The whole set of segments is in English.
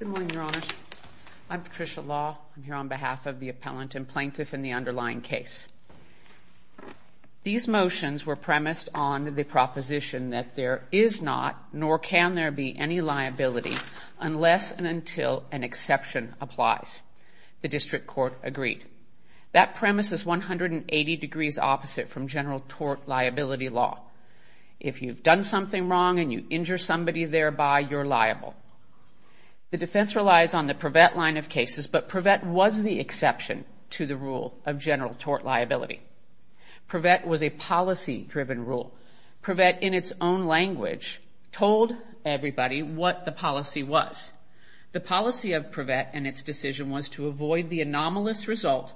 Good morning, Your Honor. I'm Patricia Law. I'm here on behalf of the appellant and plaintiff in the underlying case. These motions were premised on the proposition that there is not, nor can there be, any liability unless and until an exception applies. The district court agreed. That premise is 180 degrees opposite from general tort liability law. If you've done something wrong and you injure somebody thereby, you're liable. The defense relies on the Prevet line of cases, but Prevet was the exception to the rule of general tort liability. Prevet was a policy-driven rule. Prevet, in its own language, told everybody what the policy was. The policy of Prevet and its decision was to avoid the anomalous result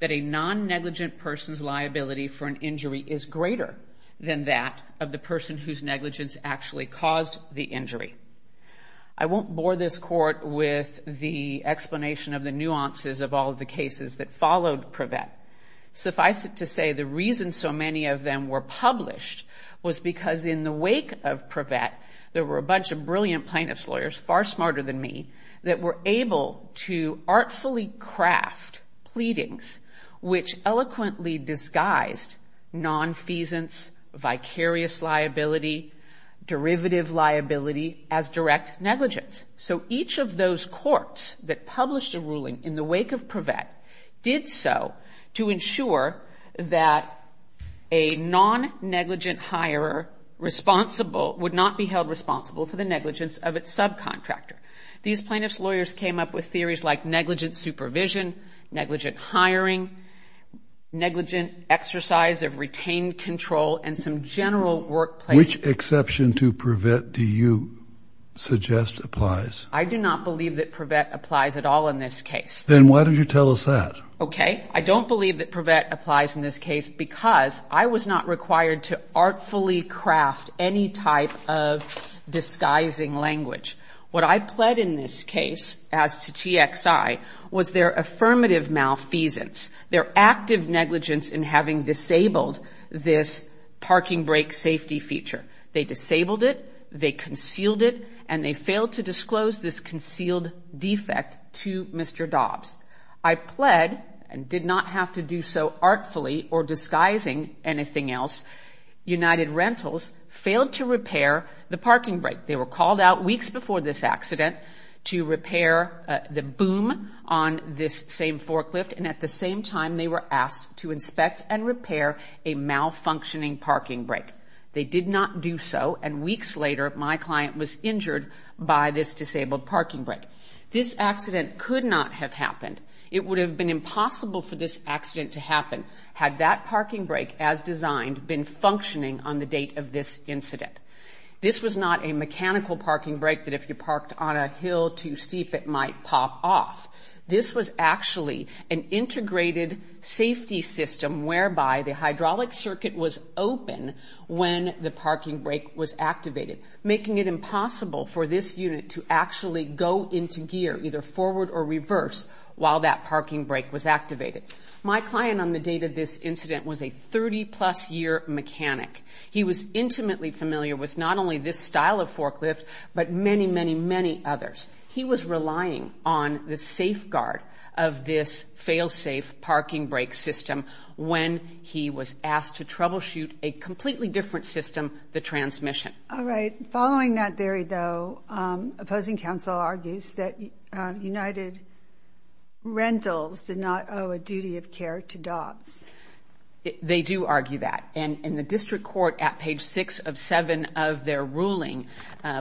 that a non-negligent person's liability for an injury is greater than that of the person whose negligence actually caused the injury. I won't bore this Court with the explanation of the nuances of all of the cases that followed Prevet. Suffice it to say, the reason so many of them were published was because in the wake of Prevet, there were a bunch of brilliant plaintiff's lawyers, far smarter than me, that were able to artfully craft pleadings which eloquently disguised nonfeasance, vicarious liability, derivative liability as direct negligence. So each of those courts that published a ruling in the wake of Prevet did so to ensure that a non-negligent hirer would not be held responsible for the negligence of its subcontractor. These plaintiff's lawyers came up with theories like negligent supervision, negligent hiring, negligent exercise of retained control, and some general workplace... Which exception to Prevet do you suggest applies? I do not believe that Prevet applies at all in this case. Then why don't you tell us that? Okay. I don't believe that Prevet applies in this case because I was not required to artfully craft any type of disguising language. What I pled in this case as to TXI was their affirmative malfeasance, their active negligence in having disabled this parking brake safety feature. They disabled it, they concealed it, and they failed to disclose this concealed defect to Mr. Dobbs. I pled and did not have to do so artfully or disguising anything else. United Rentals failed to repair the parking brake. They were called out weeks before this accident to repair the boom on this same forklift, and at the same time they were asked to inspect and repair a malfunctioning parking brake. They did not do so, and weeks later my client was injured by this disabled parking brake. This accident could not have happened. It would have been impossible for this accident to happen had that parking brake, as designed, been functioning on the date of this incident. This was not a mechanical parking brake that if you parked on a hill too steep it might pop off. This was actually an integrated safety system whereby the hydraulic circuit was open when the parking brake was activated, making it impossible for this unit to actually go into gear, either forward or reverse, while that parking brake was activated. My client on the date of this incident was a 30-plus year mechanic. He was intimately familiar with not only this style of forklift but many, many, many others. He was relying on the safeguard of this fail-safe parking brake system when he was asked to troubleshoot a completely different system, the transmission. All right. Following that theory, though, opposing counsel argues that United Rentals did not owe a duty of care to Dobbs. They do argue that. And the district court at page 6 of 7 of their ruling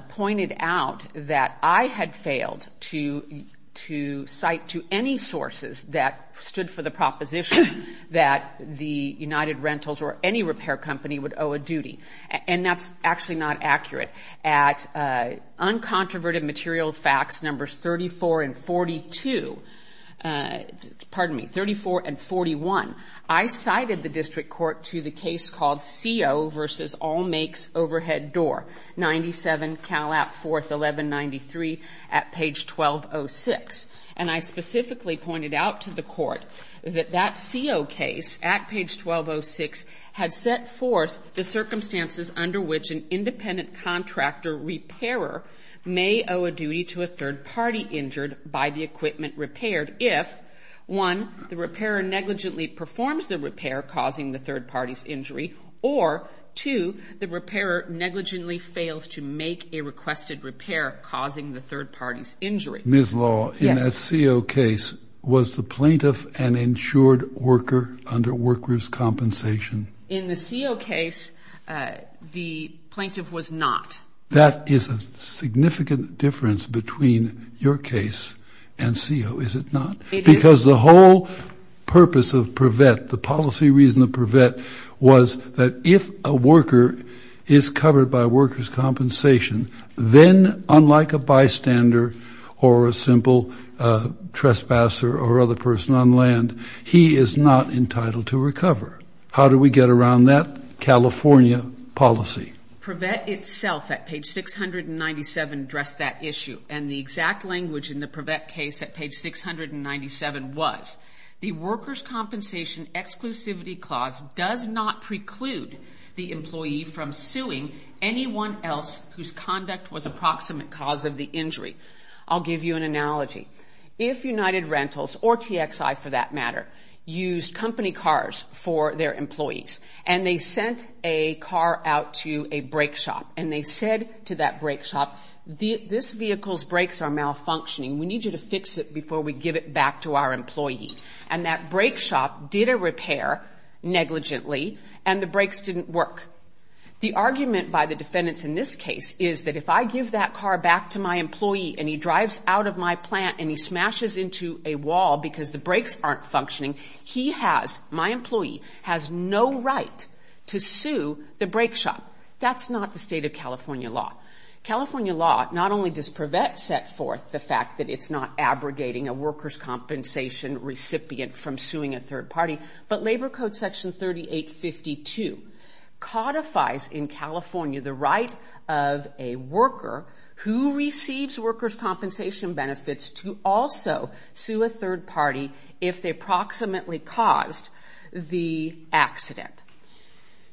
pointed out that I had failed to cite to any sources that stood for the proposition that the United Rentals or any repair company would owe a duty. And that's actually not accurate. At uncontroverted material facts numbers 34 and 42, pardon me, 34 and 41, I cited the district court to the case called CO v. All Makes Overhead Door, 97 Cal. App. 4th, 1193, at page 1206. And I specifically pointed out to the court that that CO case at page 1206 had set forth the circumstances under which an independent contractor repairer may owe a duty to a third party injured by the equipment repaired if, one, the repairer negligently performs the repair, causing the third party's injury, or, two, the repairer negligently fails to make a requested repair, causing the third party's injury. Ms. Law, in that CO case, was the plaintiff an insured worker under workers' compensation? In the CO case, the plaintiff was not. That is a significant difference between your case and CO, is it not? It is. Because the whole purpose of Privet, the policy reason of Privet, was that if a worker is covered by workers' compensation, then, unlike a bystander or a simple trespasser or other person on land, he is not entitled to recover. How do we get around that California policy? Privet itself, at page 697, addressed that issue. And the exact language in the Privet case at page 697 was, the workers' compensation exclusivity clause does not preclude the employee from suing anyone else whose conduct was approximate cause of the injury. I'll give you an analogy. If United Rentals, or TXI for that matter, used company cars for their employees, and they sent a car out to a brake shop, and they said to that brake shop, this vehicle's brakes are malfunctioning. We need you to fix it before we give it back to our employee. And that brake shop did a repair negligently, and the brakes didn't work. The argument by the defendants in this case is that if I give that car back to my employee and he drives out of my plant and he smashes into a wall because the brakes aren't functioning, he has, my employee, has no right to sue the brake shop. That's not the state of California law. California law not only does Privet set forth the fact that it's not abrogating a workers' compensation recipient from suing a third party, but Labor Code Section 3852 codifies in California the right of a worker who receives workers' compensation benefits to also sue a third party if they approximately caused the accident.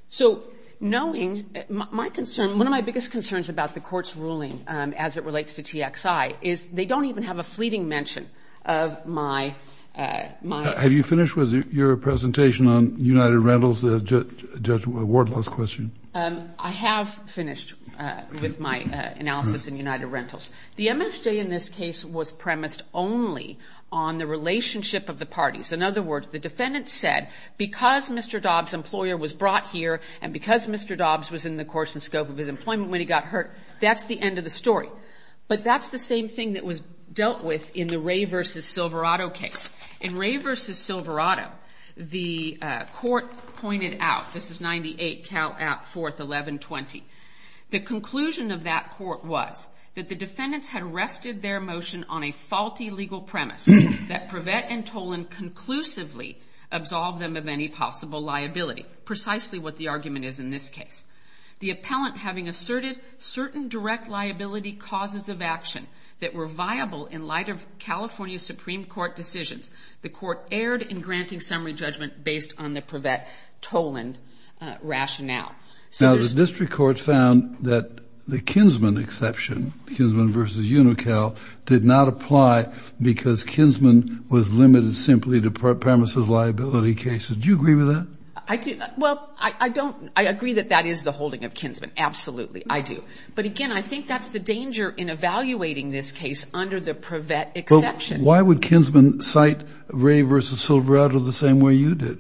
So knowing my concern, one of my biggest concerns about the court's ruling as it relates to TXI is they don't even have a fleeting mention of my own. Have you finished with your presentation on United Rentals, Judge Wardlaw's question? I have finished with my analysis in United Rentals. The MSJ in this case was premised only on the relationship of the parties. In other words, the defendant said because Mr. Dobbs' employer was brought here and because Mr. Dobbs was in the course and scope of his employment when he got hurt, that's the end of the story. But that's the same thing that was dealt with in the Ray v. Silverado case. In Ray v. Silverado, the court pointed out, this is 98 Cal App 4th 1120, the conclusion of that court was that the defendants had rested their motion on a faulty legal premise that Prevett and Toland conclusively absolved them of any possible liability, precisely what the argument is in this case. The appellant, having asserted certain direct liability causes of action that were viable in light of California Supreme Court decisions, the court erred in granting summary judgment based on the Prevett-Toland rationale. Now, the district court found that the Kinsman exception, Kinsman v. Unocal, did not apply because Kinsman was limited simply to premises liability cases. Do you agree with that? Well, I agree that that is the holding of Kinsman. Absolutely, I do. But, again, I think that's the danger in evaluating this case under the Prevett exception. Well, why would Kinsman cite Ray v. Silverado the same way you did,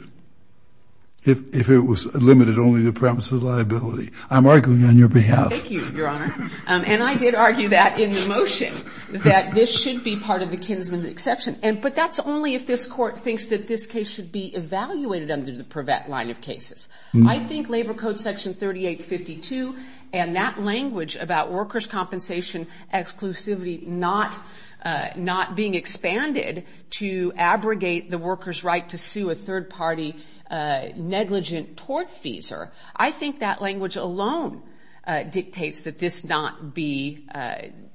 if it was limited only to premises liability? I'm arguing on your behalf. Thank you, Your Honor. And I did argue that in the motion, that this should be part of the Kinsman exception. But that's only if this court thinks that this case should be evaluated under the Prevett line of cases. I think Labor Code Section 3852 and that language about workers' compensation exclusivity not being expanded to abrogate the workers' right to sue a third-party negligent tortfeasor, I think that language alone dictates that this not be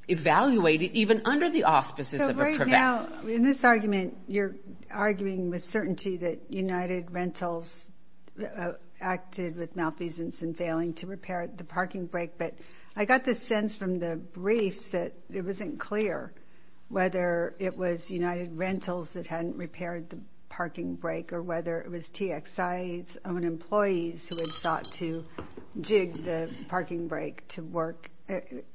evaluated, even under the auspices of a Prevett. Now, in this argument, you're arguing with certainty that United Rentals acted with malfeasance and failing to repair the parking brake. But I got the sense from the briefs that it wasn't clear whether it was United Rentals that hadn't repaired the parking brake or whether it was TXI's own employees who had sought to jig the parking brake to work.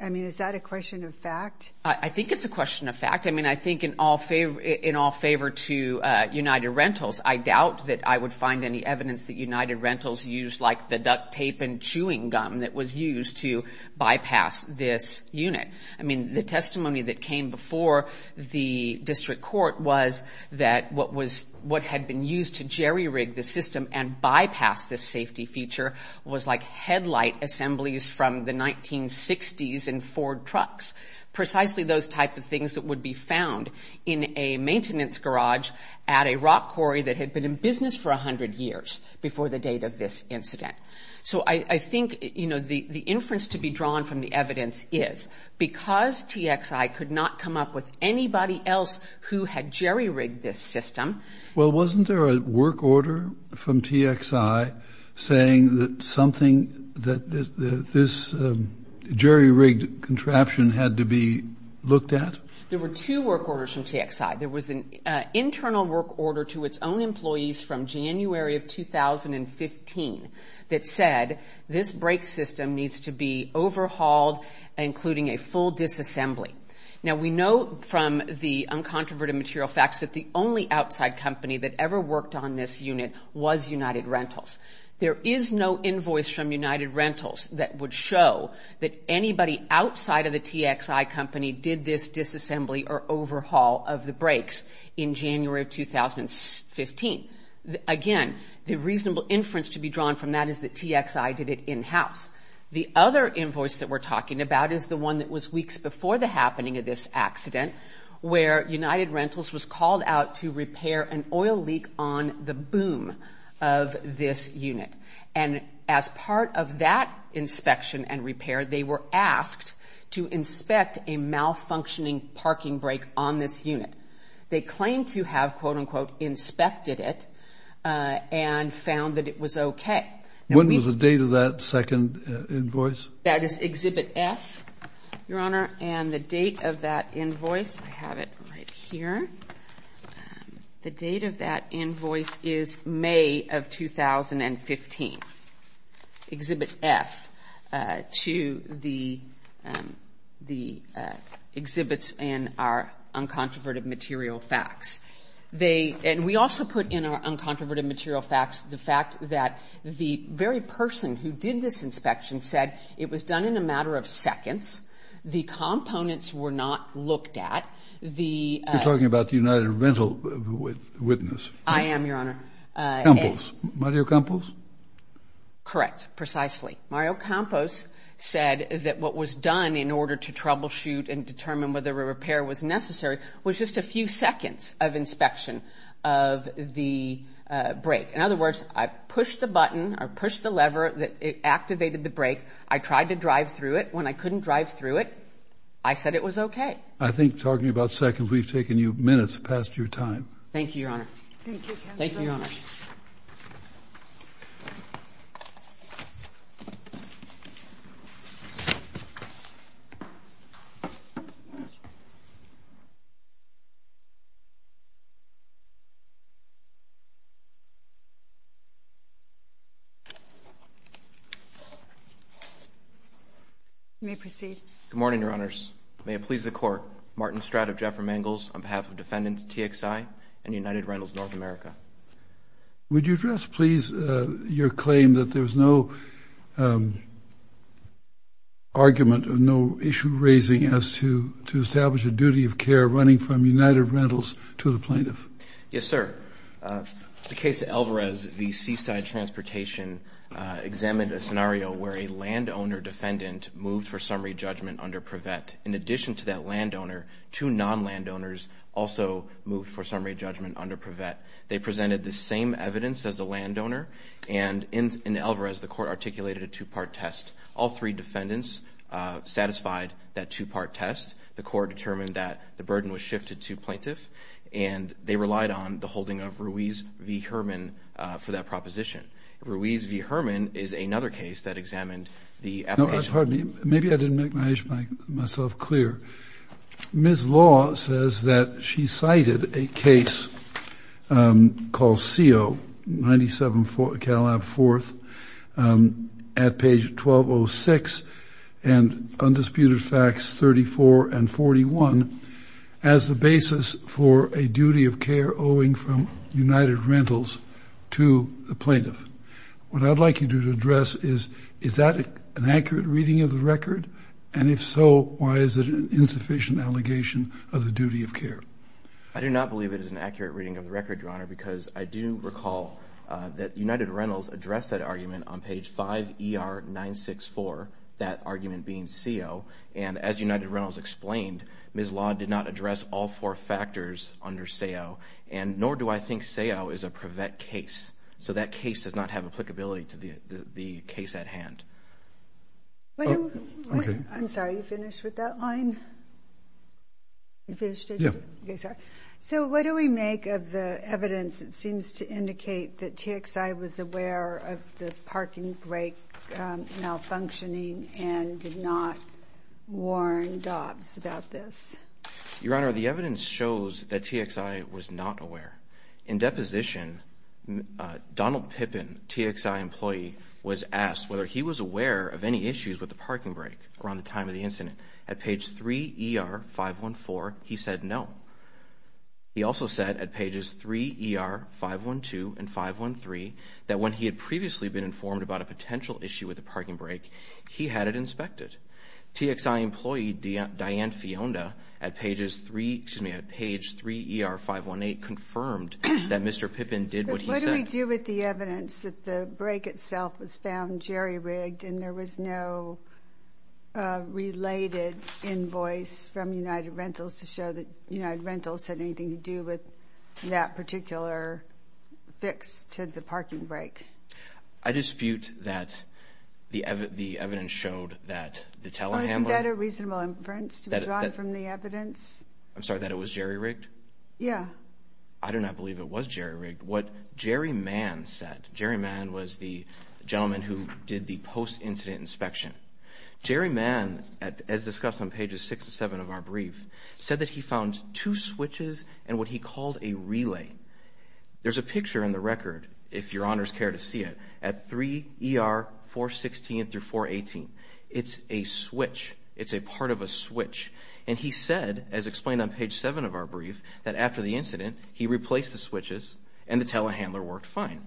I mean, is that a question of fact? I think it's a question of fact. I mean, I think in all favor to United Rentals, I doubt that I would find any evidence that United Rentals used like the duct tape and chewing gum that was used to bypass this unit. I mean, the testimony that came before the district court was that what had been used to jerry-rig the system and bypass this safety feature was like headlight assemblies from the 1960s in Ford trucks, precisely those type of things that would be found in a maintenance garage at a rock quarry that had been in business for 100 years before the date of this incident. So I think, you know, the inference to be drawn from the evidence is because TXI could not come up with anybody else who had jerry-rigged this system. Well, wasn't there a work order from TXI saying that something, that this jerry-rigged contraption had to be looked at? There were two work orders from TXI. There was an internal work order to its own employees from January of 2015 that said this brake system needs to be overhauled, including a full disassembly. Now, we know from the uncontroverted material facts that the only outside company that ever worked on this unit was United Rentals. There is no invoice from United Rentals that would show that anybody outside of the TXI company did this disassembly or overhaul of the brakes in January of 2015. Again, the reasonable inference to be drawn from that is that TXI did it in-house. The other invoice that we're talking about is the one that was weeks before the happening of this accident where United Rentals was called out to repair an oil leak on the boom of this unit. And as part of that inspection and repair, they were asked to inspect a malfunctioning parking brake on this unit. They claimed to have, quote-unquote, inspected it and found that it was okay. When was the date of that second invoice? That is Exhibit F, Your Honor, and the date of that invoice, I have it right here. The date of that invoice is May of 2015, Exhibit F, to the exhibits in our uncontroverted material facts. And we also put in our uncontroverted material facts the fact that the very person who did this inspection said it was done in a matter of seconds. The components were not looked at. You're talking about the United Rental witness. I am, Your Honor. Campos. Mario Campos? Correct, precisely. Mario Campos said that what was done in order to troubleshoot and determine whether a repair was necessary was just a few seconds of inspection of the brake. In other words, I pushed the button or pushed the lever that activated the brake. I tried to drive through it. When I couldn't drive through it, I said it was okay. I think talking about seconds, we've taken you minutes past your time. Thank you, Your Honor. Thank you, Counsel. Thank you, Your Honor. You may proceed. Good morning, Your Honors. May it please the Court, Martin Stratt of Jeffrey Mangels on behalf of defendants TXI and United Rentals North America. Would you address, please, your claim that there's no argument, no issue raising as to establish a duty of care running from United Rentals to the plaintiff? Yes, sir. The case of Alvarez v. Seaside Transportation examined a scenario where a landowner defendant moved for summary judgment under Privet. In addition to that landowner, two non-landowners also moved for summary judgment under Privet. They presented the same evidence as the landowner. And in Alvarez, the Court articulated a two-part test. All three defendants satisfied that two-part test. The Court determined that the burden was shifted to plaintiff, and they relied on the holding of Ruiz v. Herman for that proposition. Ruiz v. Herman is another case that examined the application. Pardon me. Maybe I didn't make myself clear. Ms. Law says that she cited a case called CO 97 Cattle Lab 4th at page 1206 and Undisputed Facts 34 and 41 as the basis for a duty of care owing from United Rentals to the plaintiff. What I'd like you to address is, is that an accurate reading of the record? And if so, why is it an insufficient allegation of the duty of care? I do not believe it is an accurate reading of the record, Your Honor, because I do recall that United Rentals addressed that argument on page 5 ER 964, that argument being CO. And as United Rentals explained, Ms. Law did not address all four factors under SEO, and nor do I think SEO is a Privet case. So that case does not have applicability to the case at hand. I'm sorry, are you finished with that line? You finished it? Yeah. Okay, sorry. So what do we make of the evidence that seems to indicate that TXI was aware of the parking brake malfunctioning and did not warn Dobbs about this? Your Honor, the evidence shows that TXI was not aware. In deposition, Donald Pippin, TXI employee, was asked whether he was aware of any issues with the parking brake around the time of the incident. At page 3 ER 514, he said no. He also said at pages 3 ER 512 and 513 that when he had previously been informed about a potential issue TXI employee, Diane Fiona, at page 3 ER 518 confirmed that Mr. Pippin did what he said. But what do we do with the evidence that the brake itself was found jerry-rigged and there was no related invoice from United Rentals to show that United Rentals had anything to do with that particular fix to the parking brake? I dispute that the evidence showed that the telehandler... Oh, isn't that a reasonable inference to be drawn from the evidence? I'm sorry, that it was jerry-rigged? Yeah. I do not believe it was jerry-rigged. What Jerry Mann said, Jerry Mann was the gentleman who did the post-incident inspection. Jerry Mann, as discussed on pages 6 and 7 of our brief, said that he found two switches and what he called a relay. There's a picture in the record, if your honors care to see it, at 3 ER 416 through 418. It's a switch. It's a part of a switch. And he said, as explained on page 7 of our brief, that after the incident he replaced the switches and the telehandler worked fine.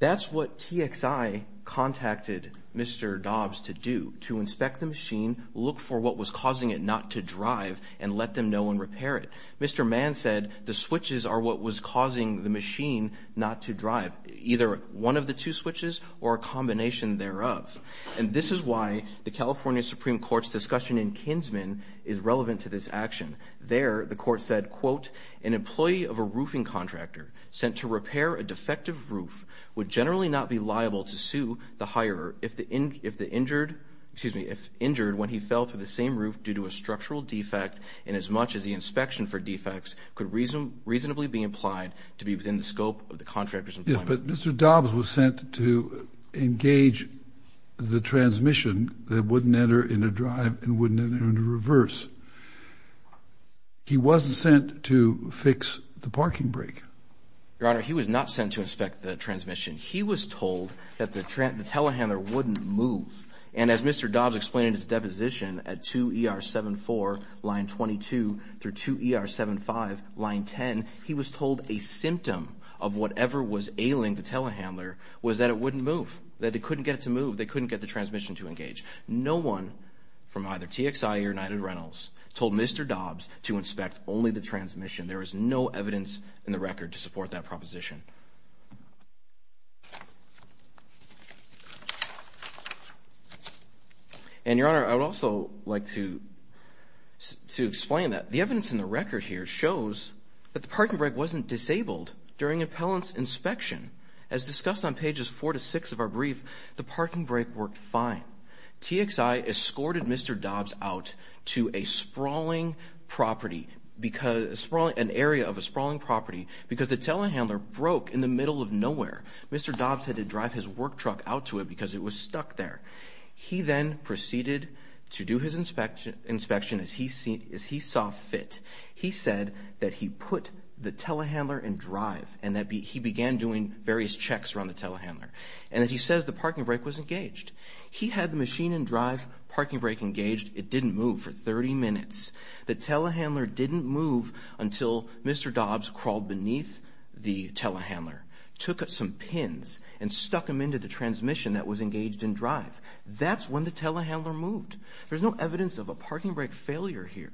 That's what TXI contacted Mr. Dobbs to do, to inspect the machine, look for what was causing it not to drive, and let them know and repair it. Mr. Mann said the switches are what was causing the machine not to drive, either one of the two switches or a combination thereof. And this is why the California Supreme Court's discussion in Kinsman is relevant to this action. There the court said, quote, an employee of a roofing contractor sent to repair a defective roof would generally not be liable to sue the hirer if injured when he fell through the same roof due to a structural defect and as much as the inspection for defects could reasonably be implied to be within the scope of the contractor's employment. Yes, but Mr. Dobbs was sent to engage the transmission that wouldn't enter in a drive and wouldn't enter in a reverse. He wasn't sent to fix the parking brake. Your honor, he was not sent to inspect the transmission. He was told that the telehandler wouldn't move. And as Mr. Dobbs explained in his deposition at 2ER74 line 22 through 2ER75 line 10, he was told a symptom of whatever was ailing the telehandler was that it wouldn't move, that they couldn't get it to move, they couldn't get the transmission to engage. No one from either TXI or United Rentals told Mr. Dobbs to inspect only the transmission. And your honor, I would also like to explain that. The evidence in the record here shows that the parking brake wasn't disabled during an appellant's inspection. As discussed on pages 4 to 6 of our brief, the parking brake worked fine. TXI escorted Mr. Dobbs out to a sprawling property, an area of a sprawling property, because the telehandler broke in the middle of nowhere. Mr. Dobbs had to drive his work truck out to it because it was stuck there. He then proceeded to do his inspection as he saw fit. He said that he put the telehandler in drive and that he began doing various checks around the telehandler and that he says the parking brake was engaged. He had the machine in drive, parking brake engaged. It didn't move for 30 minutes. The telehandler didn't move until Mr. Dobbs crawled beneath the telehandler, took some pins and stuck them into the transmission that was engaged in drive. That's when the telehandler moved. There's no evidence of a parking brake failure here.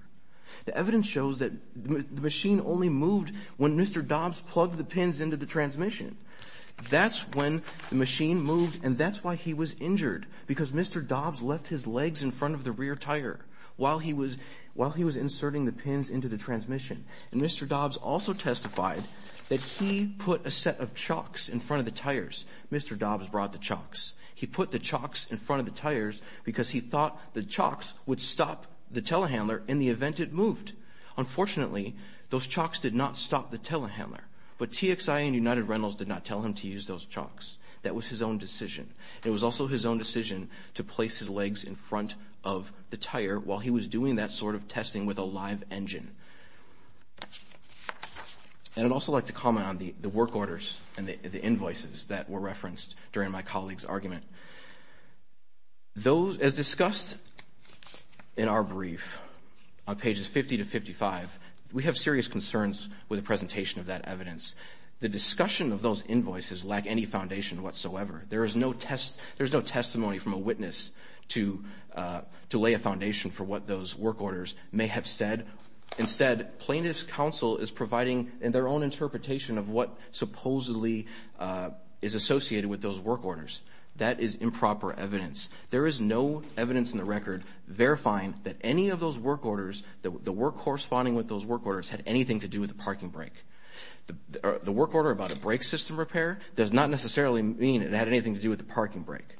The evidence shows that the machine only moved when Mr. Dobbs plugged the pins into the transmission. That's when the machine moved, and that's why he was injured, because Mr. Dobbs left his legs in front of the rear tire while he was inserting the pins into the transmission. And Mr. Dobbs also testified that he put a set of chocks in front of the tires. Mr. Dobbs brought the chocks. He put the chocks in front of the tires because he thought the chocks would stop the telehandler in the event it moved. Unfortunately, those chocks did not stop the telehandler, but TXIA and United Rentals did not tell him to use those chocks. That was his own decision. It was also his own decision to place his legs in front of the tire while he was doing that sort of testing with a live engine. And I'd also like to comment on the work orders and the invoices that were referenced during my colleague's argument. As discussed in our brief on pages 50 to 55, we have serious concerns with the presentation of that evidence. The discussion of those invoices lack any foundation whatsoever. There is no testimony from a witness to lay a foundation for what those work orders may have said. Instead, plaintiff's counsel is providing their own interpretation of what supposedly is associated with those work orders. That is improper evidence. There is no evidence in the record verifying that any of those work orders, the work corresponding with those work orders, had anything to do with the parking brake. The work order about a brake system repair does not necessarily mean it had anything to do with the parking brake.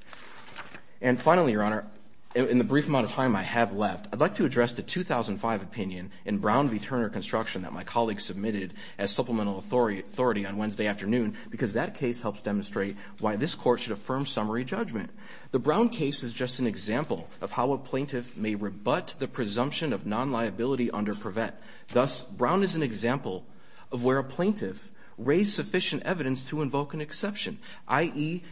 And finally, Your Honor, in the brief amount of time I have left, I'd like to address the 2005 opinion in Brown v. Turner Construction that my colleague submitted as supplemental authority on Wednesday afternoon because that case helps demonstrate why this Court should affirm summary judgment. The Brown case is just an example of how a plaintiff may rebut the presumption of non-liability under Privet. Thus, Brown is an example of where a plaintiff raised sufficient evidence to invoke an exception, i.e.,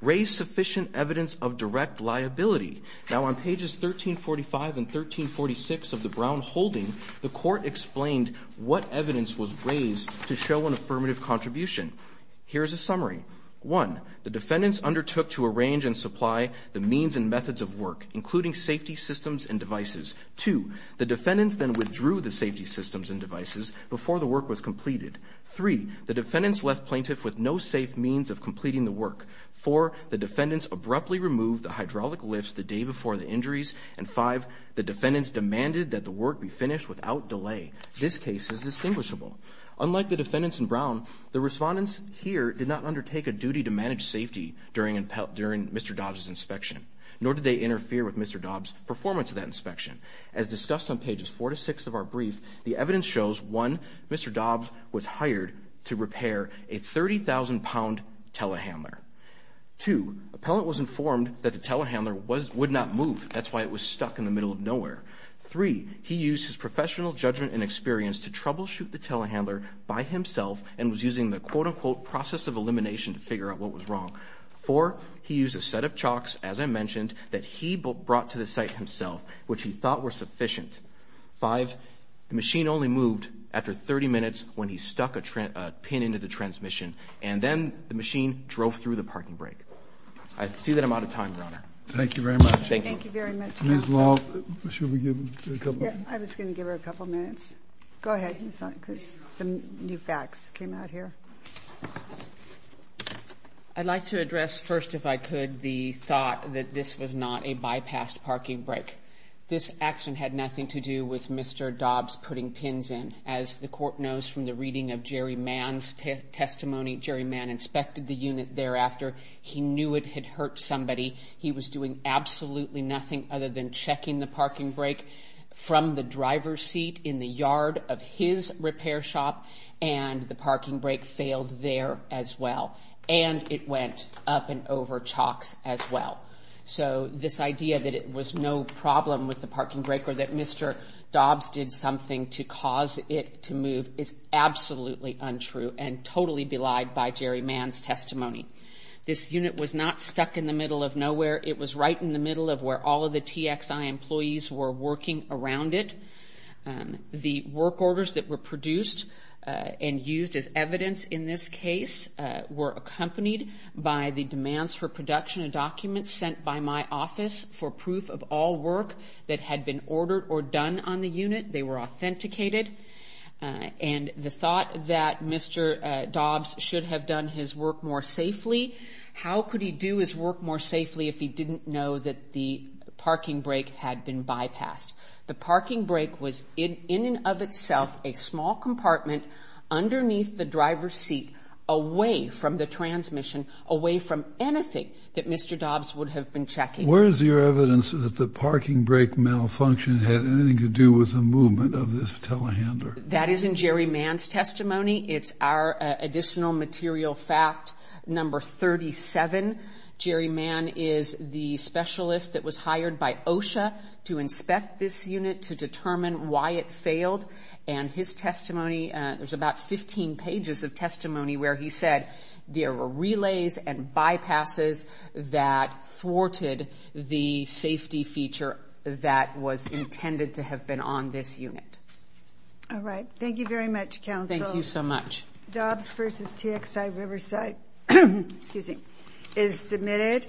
raised sufficient evidence of direct liability. Now, on pages 1345 and 1346 of the Brown holding, the Court explained what evidence was raised to show an affirmative contribution. Here is a summary. One, the defendants undertook to arrange and supply the means and methods of work, including safety systems and devices. Two, the defendants then withdrew the safety systems and devices before the work was completed. Three, the defendants left plaintiff with no safe means of completing the work. Four, the defendants abruptly removed the hydraulic lifts the day before the injuries. And five, the defendants demanded that the work be finished without delay. This case is distinguishable. Unlike the defendants in Brown, the respondents here did not undertake a duty to manage safety during Mr. Dobbs' inspection, nor did they interfere with Mr. Dobbs' performance of that inspection. As discussed on pages four to six of our brief, the evidence shows, one, Mr. Dobbs was hired to repair a 30,000-pound telehandler. Two, appellant was informed that the telehandler would not move. That's why it was stuck in the middle of nowhere. Three, he used his professional judgment and experience to troubleshoot the telehandler by himself and was using the quote-unquote process of elimination to figure out what was wrong. Four, he used a set of chalks, as I mentioned, that he brought to the site himself, which he thought were sufficient. Five, the machine only moved after 30 minutes when he stuck a pin into the transmission, and then the machine drove through the parking brake. I see that I'm out of time, Your Honor. Thank you very much. Thank you. Thank you very much, Counsel. Ms. Love, should we give a couple of minutes? I was going to give her a couple of minutes. Go ahead. Some new facts came out here. I'd like to address first, if I could, the thought that this was not a bypassed parking brake. This accident had nothing to do with Mr. Dobbs putting pins in. As the court knows from the reading of Jerry Mann's testimony, Jerry Mann inspected the unit thereafter. He knew it had hurt somebody. He was doing absolutely nothing other than checking the parking brake from the driver's seat in the yard of his repair shop and the parking brake failed there as well. And it went up and over chalks as well. So this idea that it was no problem with the parking brake or that Mr. Dobbs did something to cause it to move is absolutely untrue and totally belied by Jerry Mann's testimony. This unit was not stuck in the middle of nowhere. It was right in the middle of where all of the TXI employees were working around it. The work orders that were produced and used as evidence in this case were accompanied by the demands for production of documents sent by my office for proof of all work that had been ordered or done on the unit. They were authenticated. And the thought that Mr. Dobbs should have done his work more safely, how could he do his work more safely if he didn't know that the parking brake had been bypassed? The parking brake was in and of itself a small compartment underneath the driver's seat away from the transmission, away from anything that Mr. Dobbs would have been checking. Where is your evidence that the parking brake malfunction had anything to do with the movement of this telehandler? That is in Jerry Mann's testimony. It's our additional material fact number 37. Jerry Mann is the specialist that was hired by OSHA to inspect this unit to determine why it failed. And his testimony, there's about 15 pages of testimony where he said there were relays and bypasses that thwarted the safety feature that was intended to have been on this unit. All right. Thank you very much, Counsel. Thank you so much. Dobbs v. TXI Riverside is submitted.